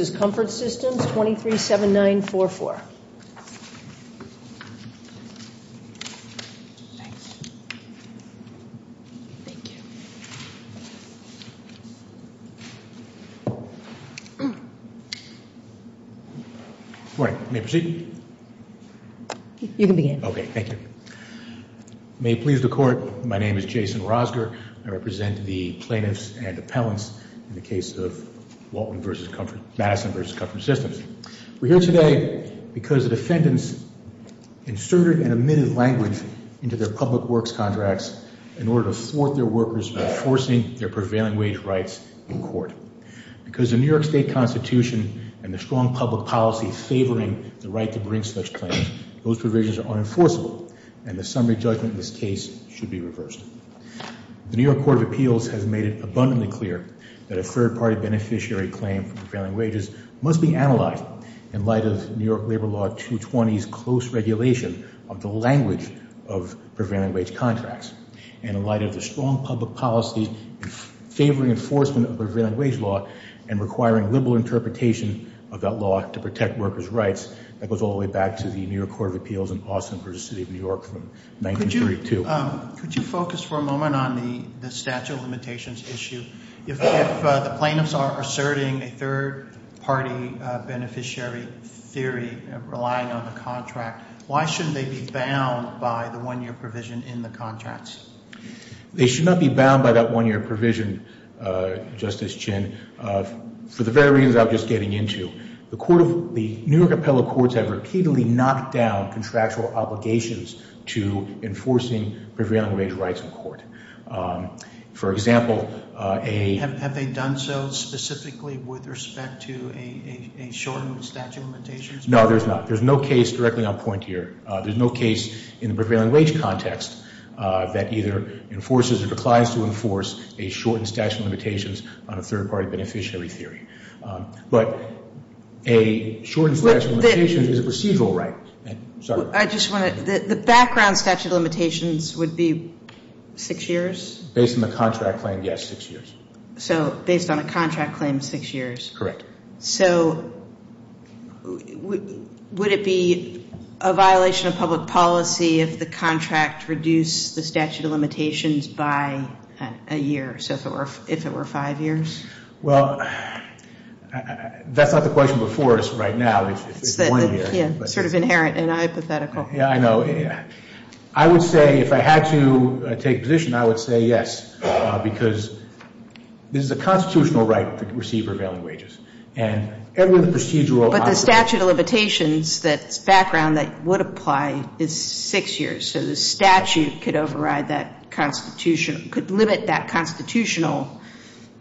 237944 May it please the Court, my name is Jason Rosger. I represent the plaintiffs and appellants in the case of Madison v. Comfort Systems. We're here today because the defendants inserted and omitted language into their public works contracts in order to thwart their workers by forcing their prevailing wage rights in court. Because of the New York State Constitution and the strong public policy favoring the right to bring such plaintiffs, those provisions are unenforceable and the summary judgment in this case should be reversed. The New York Court of Appeals has made it abundantly clear that a third-party beneficiary claim for prevailing wages must be analyzed in light of New York Labor Law 220's close regulation of the language of prevailing wage contracts. And in light of the strong public policy favoring enforcement of prevailing wage law and requiring liberal interpretation of that law to protect workers' rights, that goes all the way back to the New York Court of Appeals in Austin versus the City of New York from 1932. Could you focus for a moment on the statute of limitations issue? If the plaintiffs are asserting a third-party beneficiary theory relying on the contract, why shouldn't they be bound by the one-year provision in the contracts? They should not be bound by that one-year provision, Justice Chinn, for the very reasons I was just getting into. The New York appellate courts have repeatedly knocked down contractual obligations to enforcing prevailing wage rights in court. For example, a- Have they done so specifically with respect to a shortened statute of limitations? No, there's not. There's no case directly on point here. There's no case in the prevailing wage context that either enforces or declines to enforce a shortened statute of limitations on a third-party beneficiary theory. But a shortened statute of limitations is a procedural right. Sorry. I just want to- the background statute of limitations would be six years? Based on the contract claim, yes, six years. So based on a contract claim, six years. Correct. So would it be a violation of public policy if the contract reduced the statute of limitations by a year? So if it were five years? Well, that's not the question before us right now. It's one year. It's sort of inherent and hypothetical. Yeah, I know. I would say if I had to take a position, I would say yes, because this is a constitutional right to receive prevailing wages. And every procedural- But the statute of limitations, that background that would apply, is six years. So the statute could override that constitutional- could limit that constitutional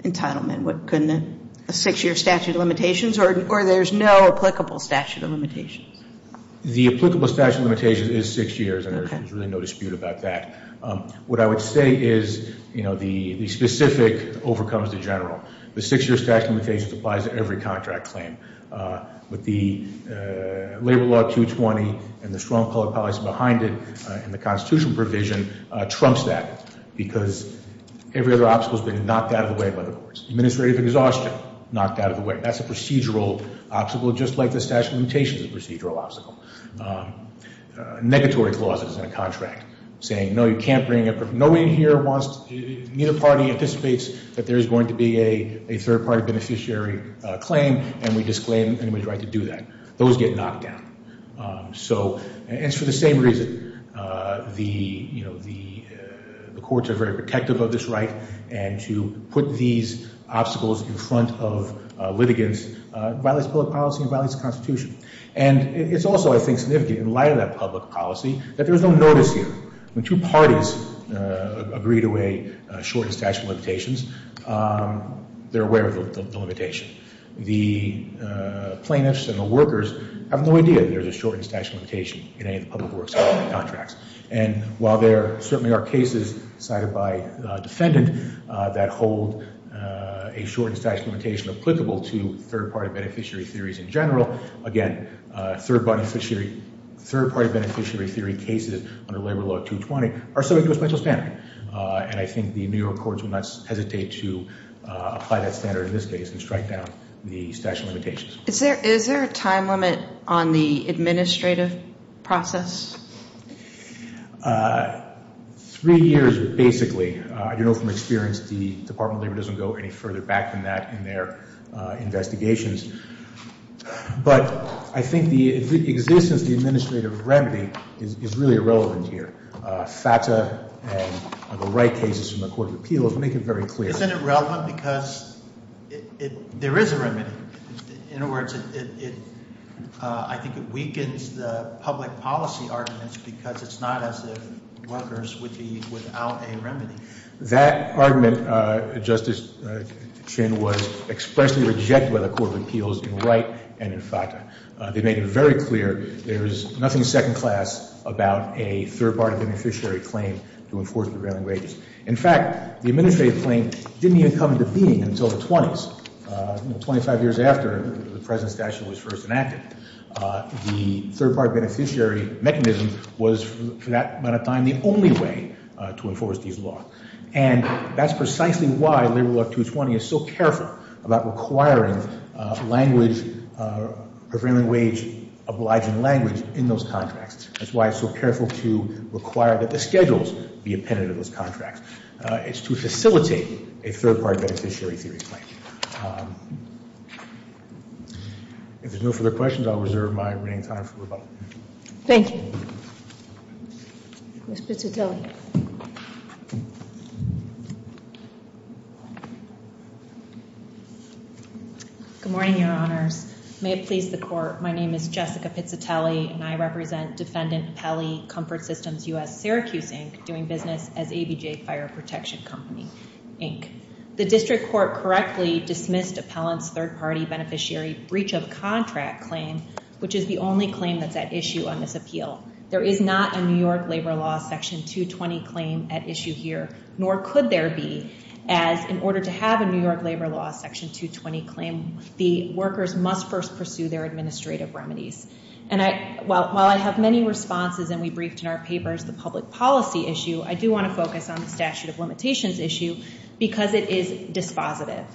entitlement, couldn't it? A six-year statute of limitations, or there's no applicable statute of limitations? The applicable statute of limitations is six years, and there's really no dispute about that. What I would say is, you know, the specific overcomes the general. The six-year statute of limitations applies to every contract claim. But the Labor Law 220 and the strong public policy behind it and the constitutional provision trumps that, because every other obstacle has been knocked out of the way by the courts. Administrative exhaustion, knocked out of the way. That's a procedural obstacle, just like the statute of limitations is a procedural obstacle. Negatory clauses in a contract, saying, no, you can't bring in- Nobody in here wants- neither party anticipates that there is going to be a third-party beneficiary claim, and we disclaim anybody's right to do that. Those get knocked out. So, and it's for the same reason. The, you know, the courts are very protective of this right, and to put these obstacles in front of litigants violates public policy and violates the Constitution. And it's also, I think, significant, in light of that public policy, that there's no notice here. When two parties agree to a shortened statute of limitations, they're aware of the limitation. The plaintiffs and the workers have no idea there's a shortened statute of limitation in any of the public works contracts. And while there certainly are cases cited by defendant that hold a shortened statute of limitation applicable to third-party beneficiary theories in general, again, third-party beneficiary theory cases under Labor Law 220 are subject to a special standard. And I think the New York courts will not hesitate to apply that standard in this case and strike down the statute of limitations. Is there a time limit on the administrative process? Three years, basically. I do know from experience the Department of Labor doesn't go any further back than that in their investigations. But I think the existence of the administrative remedy is really irrelevant here. FATA and the right cases from the Court of Appeals make it very clear. Isn't it relevant because there is a remedy? In other words, I think it weakens the public policy arguments because it's not as if workers would be without a remedy. That argument, Justice Chin, was expressly rejected by the Court of Appeals in Wright and in FATA. They made it very clear there is nothing second-class about a third-party beneficiary claim to enforce prevailing wages. In fact, the administrative claim didn't even come into being until the 20s. Twenty-five years after the present statute was first enacted, the third-party beneficiary mechanism was, for that amount of time, the only way to enforce these laws. And that's precisely why Labor Law 220 is so careful about requiring language, prevailing wage obliging language, in those contracts. That's why it's so careful to require that the schedules be appended to those contracts. It's to facilitate a third-party beneficiary theory claim. If there's no further questions, I'll reserve my remaining time for rebuttal. Thank you. Ms. Pizzatelli. Good morning, Your Honors. May it please the Court, my name is Jessica Pizzatelli, and I represent Defendant Appellee Comfort Systems U.S. Syracuse, Inc., doing business as ABJ Fire Protection Company, Inc. The district court correctly dismissed appellant's third-party beneficiary breach of contract claim, which is the only claim that's at issue on this appeal. There is not a New York Labor Law section 220 claim at issue here, nor could there be, as in order to have a New York Labor Law section 220 claim, the workers must first pursue their administrative remedies. And while I have many responses and we briefed in our papers the public policy issue, I do want to focus on the statute of limitations issue because it is dispositive.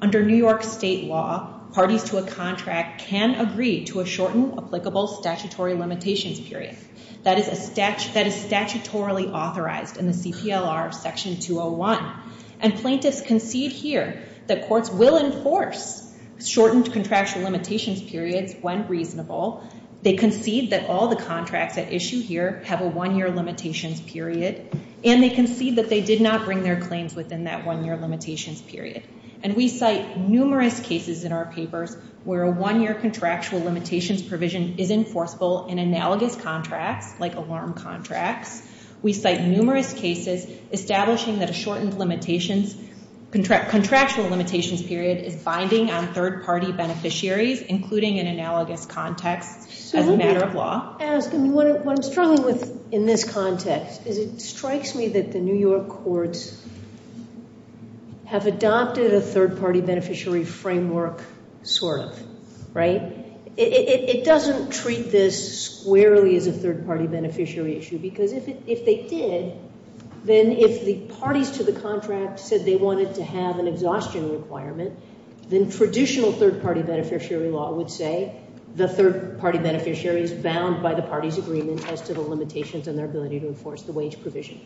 Under New York state law, parties to a contract can agree to a shortened applicable statutory limitations period. That is statutorily authorized in the CPLR section 201. And plaintiffs concede here that courts will enforce shortened contractual limitations periods when reasonable. They concede that all the contracts at issue here have a one-year limitations period, and they concede that they did not bring their claims within that one-year limitations period. And we cite numerous cases in our papers where a one-year contractual limitations provision is enforceable in analogous contracts, like alarm contracts. We cite numerous cases establishing that a shortened contractual limitations period is binding on third-party beneficiaries, including in analogous contexts as a matter of law. What I'm struggling with in this context is it strikes me that the New York courts have adopted a third-party beneficiary framework, sort of. It doesn't treat this squarely as a third-party beneficiary issue because if they did, then if the parties to the contract said they wanted to have an exhaustion requirement, then traditional third-party beneficiary law would say the third-party beneficiary is bound by the party's agreement as to the limitations and their ability to enforce the wage provision.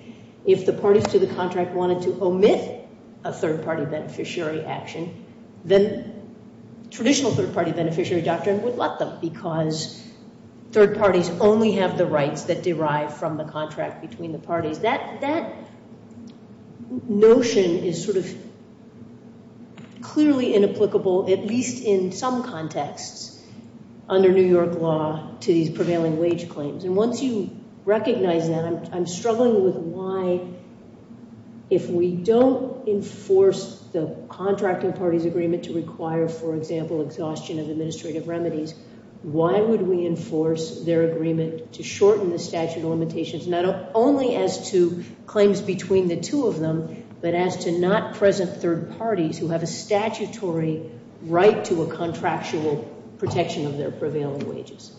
If the parties to the contract wanted to omit a third-party beneficiary action, then traditional third-party beneficiary doctrine would let them because third parties only have the rights that derive from the contract between the parties. That notion is sort of clearly inapplicable, at least in some contexts, under New York law to these prevailing wage claims. Once you recognize that, I'm struggling with why if we don't enforce the contracting parties' agreement to require, for example, exhaustion of administrative remedies, why would we enforce their agreement to shorten the statute of limitations not only as to claims between the two of them, but as to not present third parties who have a statutory right to a contractual protection of their prevailing wages.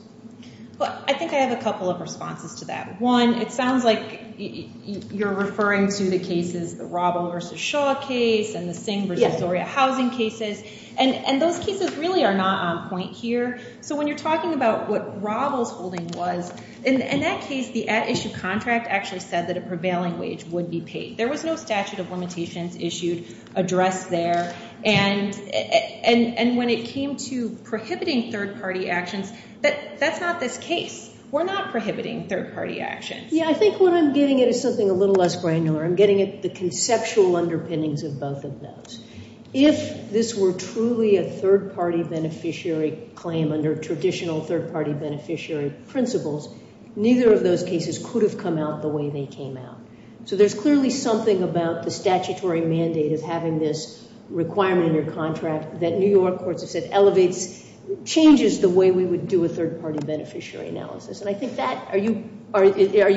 Well, I think I have a couple of responses to that. One, it sounds like you're referring to the cases, the Robles v. Shaw case and the Singh v. Zoria housing cases, and those cases really are not on point here. So when you're talking about what Robles' holding was, in that case, the at-issue contract actually said that a prevailing wage would be paid. There was no statute of limitations issued addressed there. And when it came to prohibiting third-party actions, that's not this case. We're not prohibiting third-party actions. Yeah, I think what I'm getting at is something a little less granular. I'm getting at the conceptual underpinnings of both of those. If this were truly a third-party beneficiary claim under traditional third-party beneficiary principles, neither of those cases could have come out the way they came out. So there's clearly something about the statutory mandate of having this requirement in your contract that New York courts have said elevates, changes the way we would do a third-party beneficiary analysis. And I think that, are you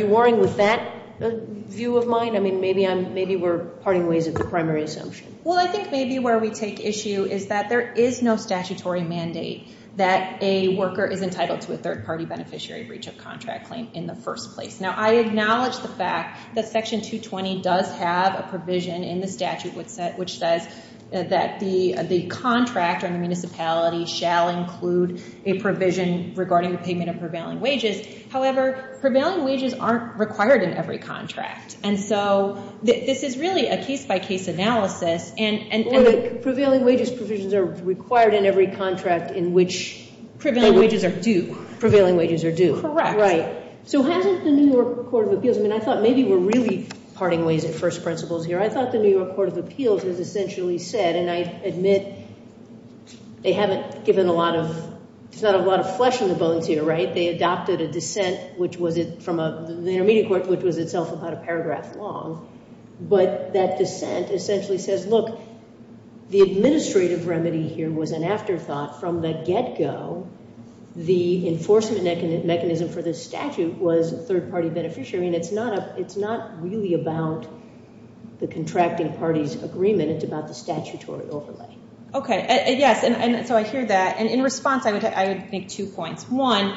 warring with that view of mine? I mean, maybe we're parting ways at the primary assumption. Well, I think maybe where we take issue is that there is no statutory mandate that a worker is entitled to a third-party beneficiary breach of contract claim in the first place. Now, I acknowledge the fact that Section 220 does have a provision in the statute which says that the contractor in the municipality shall include a provision regarding payment of prevailing wages. However, prevailing wages aren't required in every contract. And so this is really a case-by-case analysis. Or the prevailing wages provisions are required in every contract in which prevailing wages are due. Prevailing wages are due. Correct. Right. So hasn't the New York Court of Appeals, I mean, I thought maybe we're really parting ways at first principles here. I thought the New York Court of Appeals has essentially said, and I admit they haven't given a lot of, there's not a lot of flesh on the bones here, right? They adopted a dissent which was from the Intermediate Court which was itself about a paragraph long. But that dissent essentially says, look, the administrative remedy here was an afterthought from the get-go. The enforcement mechanism for this statute was a third-party beneficiary, and it's not really about the contracting party's agreement. It's about the statutory overlay. Okay. Yes, and so I hear that. And in response, I would make two points. One,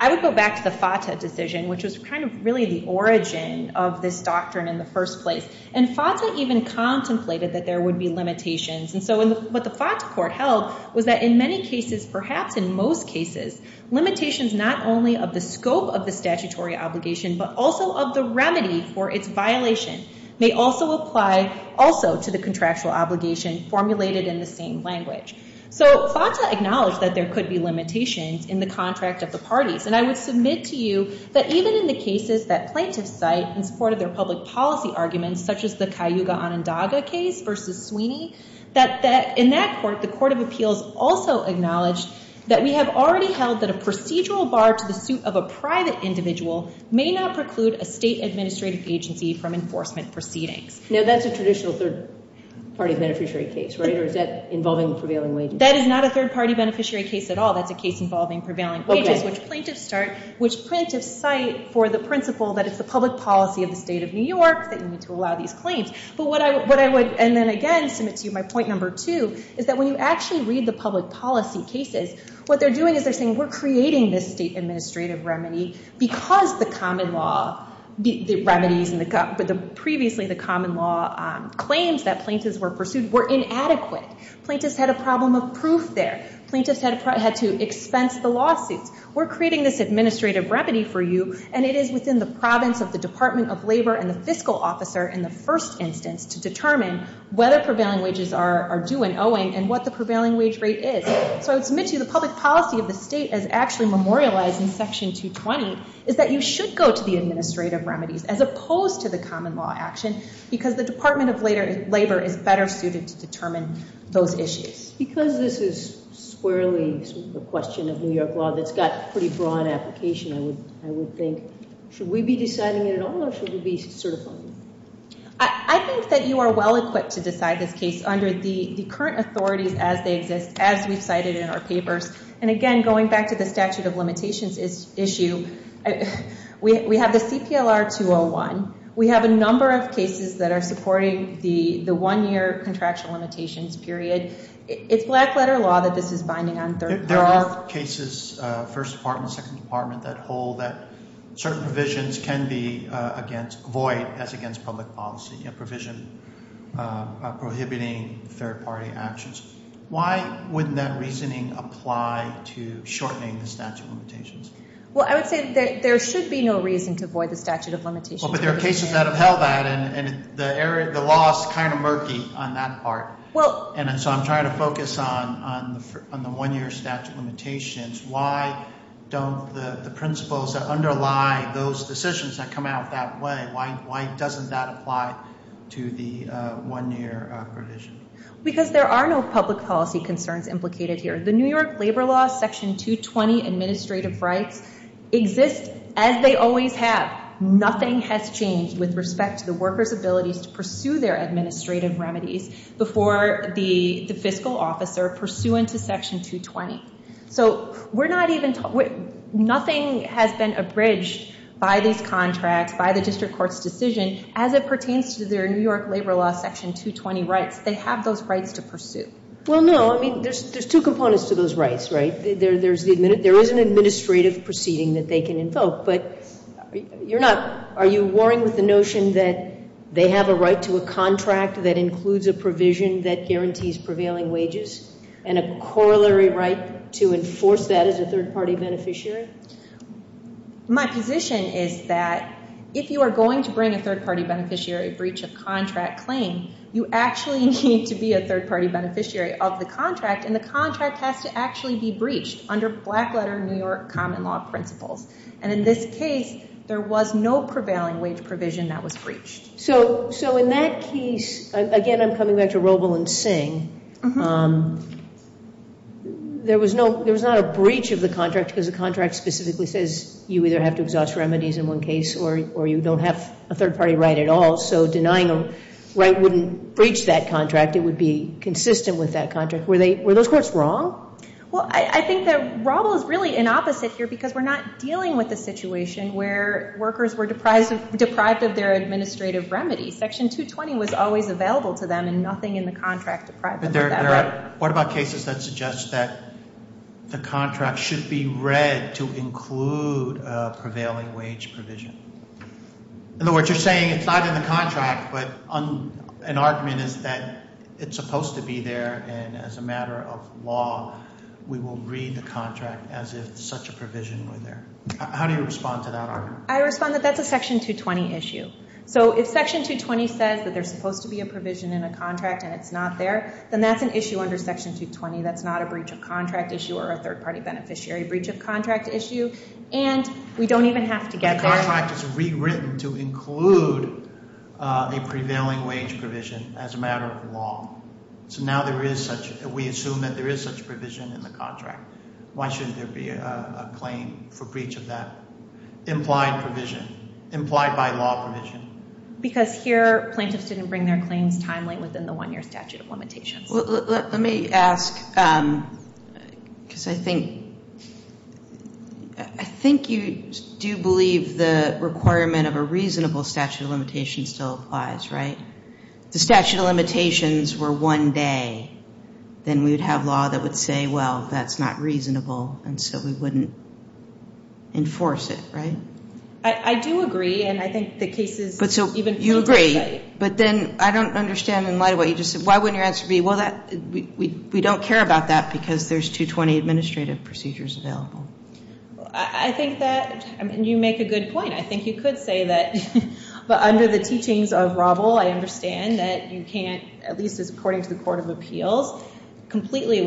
I would go back to the FATA decision which was kind of really the origin of this doctrine in the first place. And FATA even contemplated that there would be limitations. And so what the FATA court held was that in many cases, perhaps in most cases, limitations not only of the scope of the statutory obligation but also of the remedy for its violation may also apply also to the contractual obligation formulated in the same language. So FATA acknowledged that there could be limitations in the contract of the parties. And I would submit to you that even in the cases that plaintiffs cite in support of their public policy arguments, such as the Cayuga-Onondaga case versus Sweeney, that in that court, the Court of Appeals also acknowledged that we have already held that a procedural bar to the suit of a private individual may not preclude a state administrative agency from enforcement proceedings. Now, that's a traditional third-party beneficiary case, right? Or is that involving prevailing wages? That is not a third-party beneficiary case at all. That's a case involving prevailing wages, which plaintiffs cite for the principle that it's the public policy of the state of New York that you need to allow these claims. But what I would, and then again submit to you my point number two, is that when you actually read the public policy cases, what they're doing is they're saying, we're creating this state administrative remedy because the common law remedies and previously the common law claims that plaintiffs were pursued were inadequate. Plaintiffs had a problem of proof there. Plaintiffs had to expense the lawsuits. We're creating this administrative remedy for you, and it is within the province of the Department of Labor and the fiscal officer in the first instance to determine whether prevailing wages are due and owing and what the prevailing wage rate is. So I would submit to you the public policy of the state as actually memorialized in Section 220 is that you should go to the administrative remedies as opposed to the common law action because the Department of Labor is better suited to determine those issues. Because this is squarely a question of New York law that's got pretty broad application, I would think, should we be deciding it at all or should we be certifying it? I think that you are well-equipped to decide this case under the current authorities as they exist, as we've cited in our papers. And again, going back to the statute of limitations issue, we have the CPLR 201. We have a number of cases that are supporting the one-year contraction limitations period. It's black-letter law that this is binding on third party law. There are cases, first department, second department, that hold that certain provisions can be void as against public policy, a provision prohibiting third-party actions. Why wouldn't that reasoning apply to shortening the statute of limitations? Well, I would say that there should be no reason to void the statute of limitations. Well, but there are cases that have held that, and the law is kind of murky on that part. And so I'm trying to focus on the one-year statute of limitations. Why don't the principles that underlie those decisions that come out that way, why doesn't that apply to the one-year provision? Because there are no public policy concerns implicated here. The New York Labor Law Section 220 administrative rights exist as they always have. Nothing has changed with respect to the workers' abilities to pursue their administrative remedies before the fiscal officer pursuant to Section 220. So we're not even talking, nothing has been abridged by these contracts, by the district court's decision as it pertains to their New York Labor Law Section 220 rights. They have those rights to pursue. Well, no, I mean, there's two components to those rights, right? There is an administrative proceeding that they can invoke. But you're not, are you warring with the notion that they have a right to a contract that includes a provision that guarantees prevailing wages and a corollary right to enforce that as a third-party beneficiary? My position is that if you are going to bring a third-party beneficiary a breach of contract claim, you actually need to be a third-party beneficiary of the contract, and the contract has to actually be breached under black-letter New York common law principles. And in this case, there was no prevailing wage provision that was breached. So in that case, again, I'm coming back to Roble and Singh, there was not a breach of the contract because the contract specifically says you either have to exhaust remedies in one case or you don't have a third-party right at all. So denying a right wouldn't breach that contract. It would be consistent with that contract. Were those courts wrong? Well, I think that Roble is really inopposite here because we're not dealing with a situation where workers were deprived of their administrative remedy. Section 220 was always available to them and nothing in the contract deprived them of that right. What about cases that suggest that the contract should be read to include a prevailing wage provision? In other words, you're saying it's not in the contract, but an argument is that it's supposed to be there and as a matter of law, we will read the contract as if such a provision were there. How do you respond to that argument? I respond that that's a Section 220 issue. So if Section 220 says that there's supposed to be a provision in a contract and it's not there, then that's an issue under Section 220 that's not a breach of contract issue or a third-party beneficiary breach of contract issue, and we don't even have to get there. The contract is rewritten to include a prevailing wage provision as a matter of law. So now we assume that there is such provision in the contract. Why shouldn't there be a claim for breach of that implied provision, implied by law provision? Because here plaintiffs didn't bring their claims timely within the one-year statute of limitations. Let me ask, because I think you do believe the requirement of a reasonable statute of limitations still applies, right? If the statute of limitations were one day, then we would have law that would say, well, that's not reasonable, and so we wouldn't enforce it, right? I do agree, and I think the case is even further insight. Right, but then I don't understand in light of what you just said. Why wouldn't your answer be, well, we don't care about that because there's 220 administrative procedures available? I think that you make a good point. I think you could say that under the teachings of Robel, I understand that you can't, at least according to the Court of Appeals, completely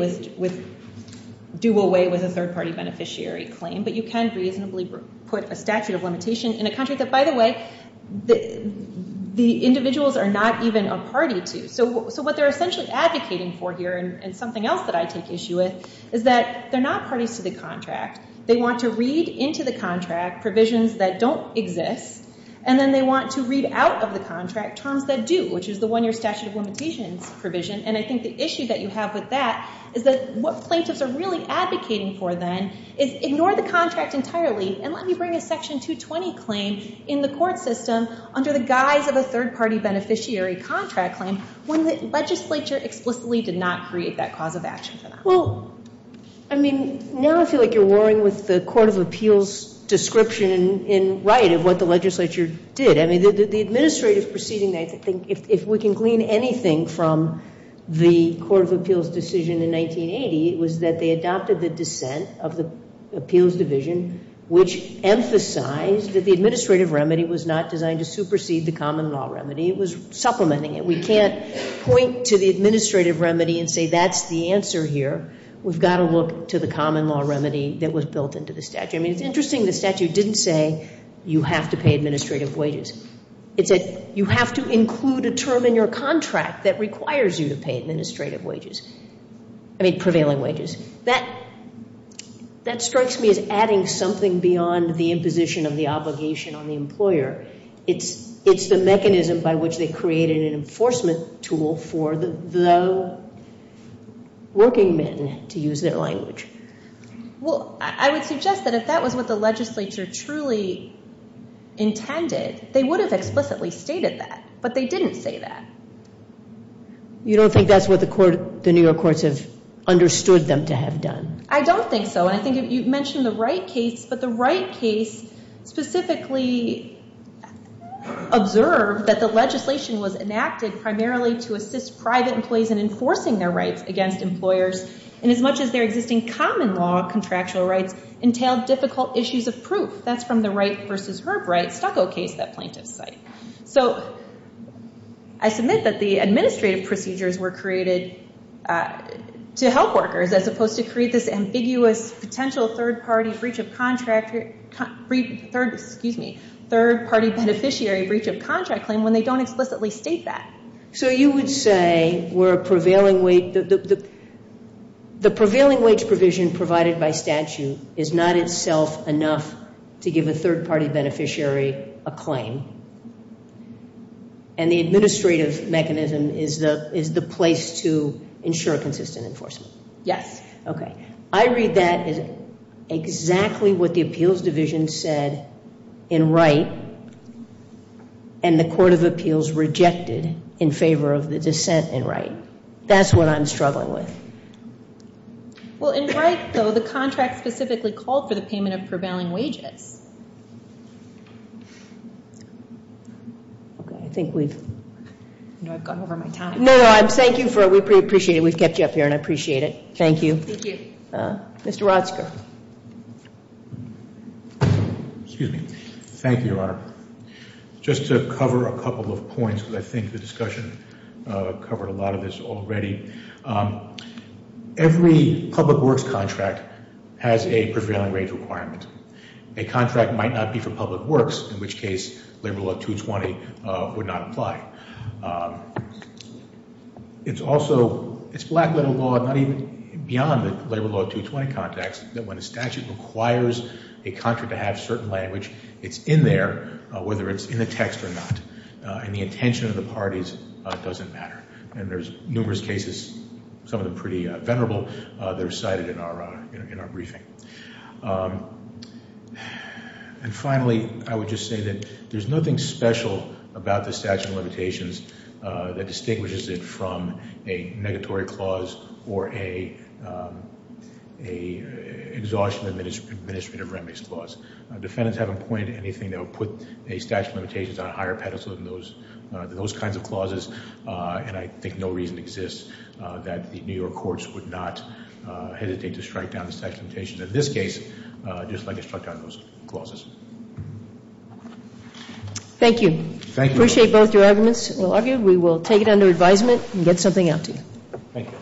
do away with a third-party beneficiary claim, but you can reasonably put a statute of limitation in a contract that, by the way, the individuals are not even a party to. So what they're essentially advocating for here, and something else that I take issue with, is that they're not parties to the contract. They want to read into the contract provisions that don't exist, and then they want to read out of the contract terms that do, which is the one-year statute of limitations provision, and I think the issue that you have with that is that what plaintiffs are really advocating for then is ignore the contract entirely and let me bring a Section 220 claim in the court system under the guise of a third-party beneficiary contract claim when the legislature explicitly did not create that cause of action for them. Well, I mean, now I feel like you're warring with the Court of Appeals' description in right of what the legislature did. I mean, the administrative proceeding, I think, if we can glean anything from the Court of Appeals' decision in 1980, it was that they adopted the dissent of the appeals division, which emphasized that the administrative remedy was not designed to supersede the common law remedy. It was supplementing it. We can't point to the administrative remedy and say that's the answer here. We've got to look to the common law remedy that was built into the statute. I mean, it's interesting the statute didn't say you have to pay administrative wages. It said you have to include a term in your contract that requires you to pay administrative wages. I mean, prevailing wages. That strikes me as adding something beyond the imposition of the obligation on the employer. It's the mechanism by which they created an enforcement tool for the workingmen to use their language. Well, I would suggest that if that was what the legislature truly intended, they would have explicitly stated that, but they didn't say that. You don't think that's what the New York courts have understood them to have done? I don't think so, and I think you've mentioned the Wright case, but the Wright case specifically observed that the legislation was enacted primarily to assist private employees in enforcing their rights against employers, and as much as their existing common law contractual rights entailed difficult issues of proof. That's from the Wright v. Herb Wright stucco case that plaintiffs cite. So I submit that the administrative procedures were created to help workers as opposed to create this ambiguous potential third-party beneficiary breach of contract claim when they don't explicitly state that. So you would say the prevailing wage provision provided by statute is not itself enough to give a third-party beneficiary a claim, and the administrative mechanism is the place to ensure consistent enforcement? Yes. Okay. I read that as exactly what the appeals division said in Wright, and the Court of Appeals rejected in favor of the dissent in Wright. That's what I'm struggling with. Well, in Wright, though, the contract specifically called for the payment of prevailing wages. Okay. I think we've gone over my time. No, no. Thank you for it. We appreciate it. We've kept you up here, and I appreciate it. Thank you. Thank you. Mr. Rodsker. Excuse me. Thank you, Your Honor. Just to cover a couple of points, because I think the discussion covered a lot of this already. Every public works contract has a prevailing wage requirement. A contract might not be for public works, in which case Labor Law 220 would not apply. It's also black-letter law, not even beyond the Labor Law 220 context, that when a statute requires a contract to have certain language, it's in there, whether it's in the text or not, and the intention of the parties doesn't matter. And there's numerous cases, some of them pretty venerable, that are cited in our briefing. And finally, I would just say that there's nothing special about the statute of limitations that distinguishes it from a negatory clause or a exhaustion administrative remedies clause. Defendants haven't pointed to anything that would put a statute of limitations on a higher pedestal than those kinds of clauses, and I think no reason exists that the New York courts would not hesitate to strike down the statute of limitations in this case, just like they struck down those clauses. Thank you. Thank you. Appreciate both your arguments. We will take it under advisement and get something out to you. Thank you.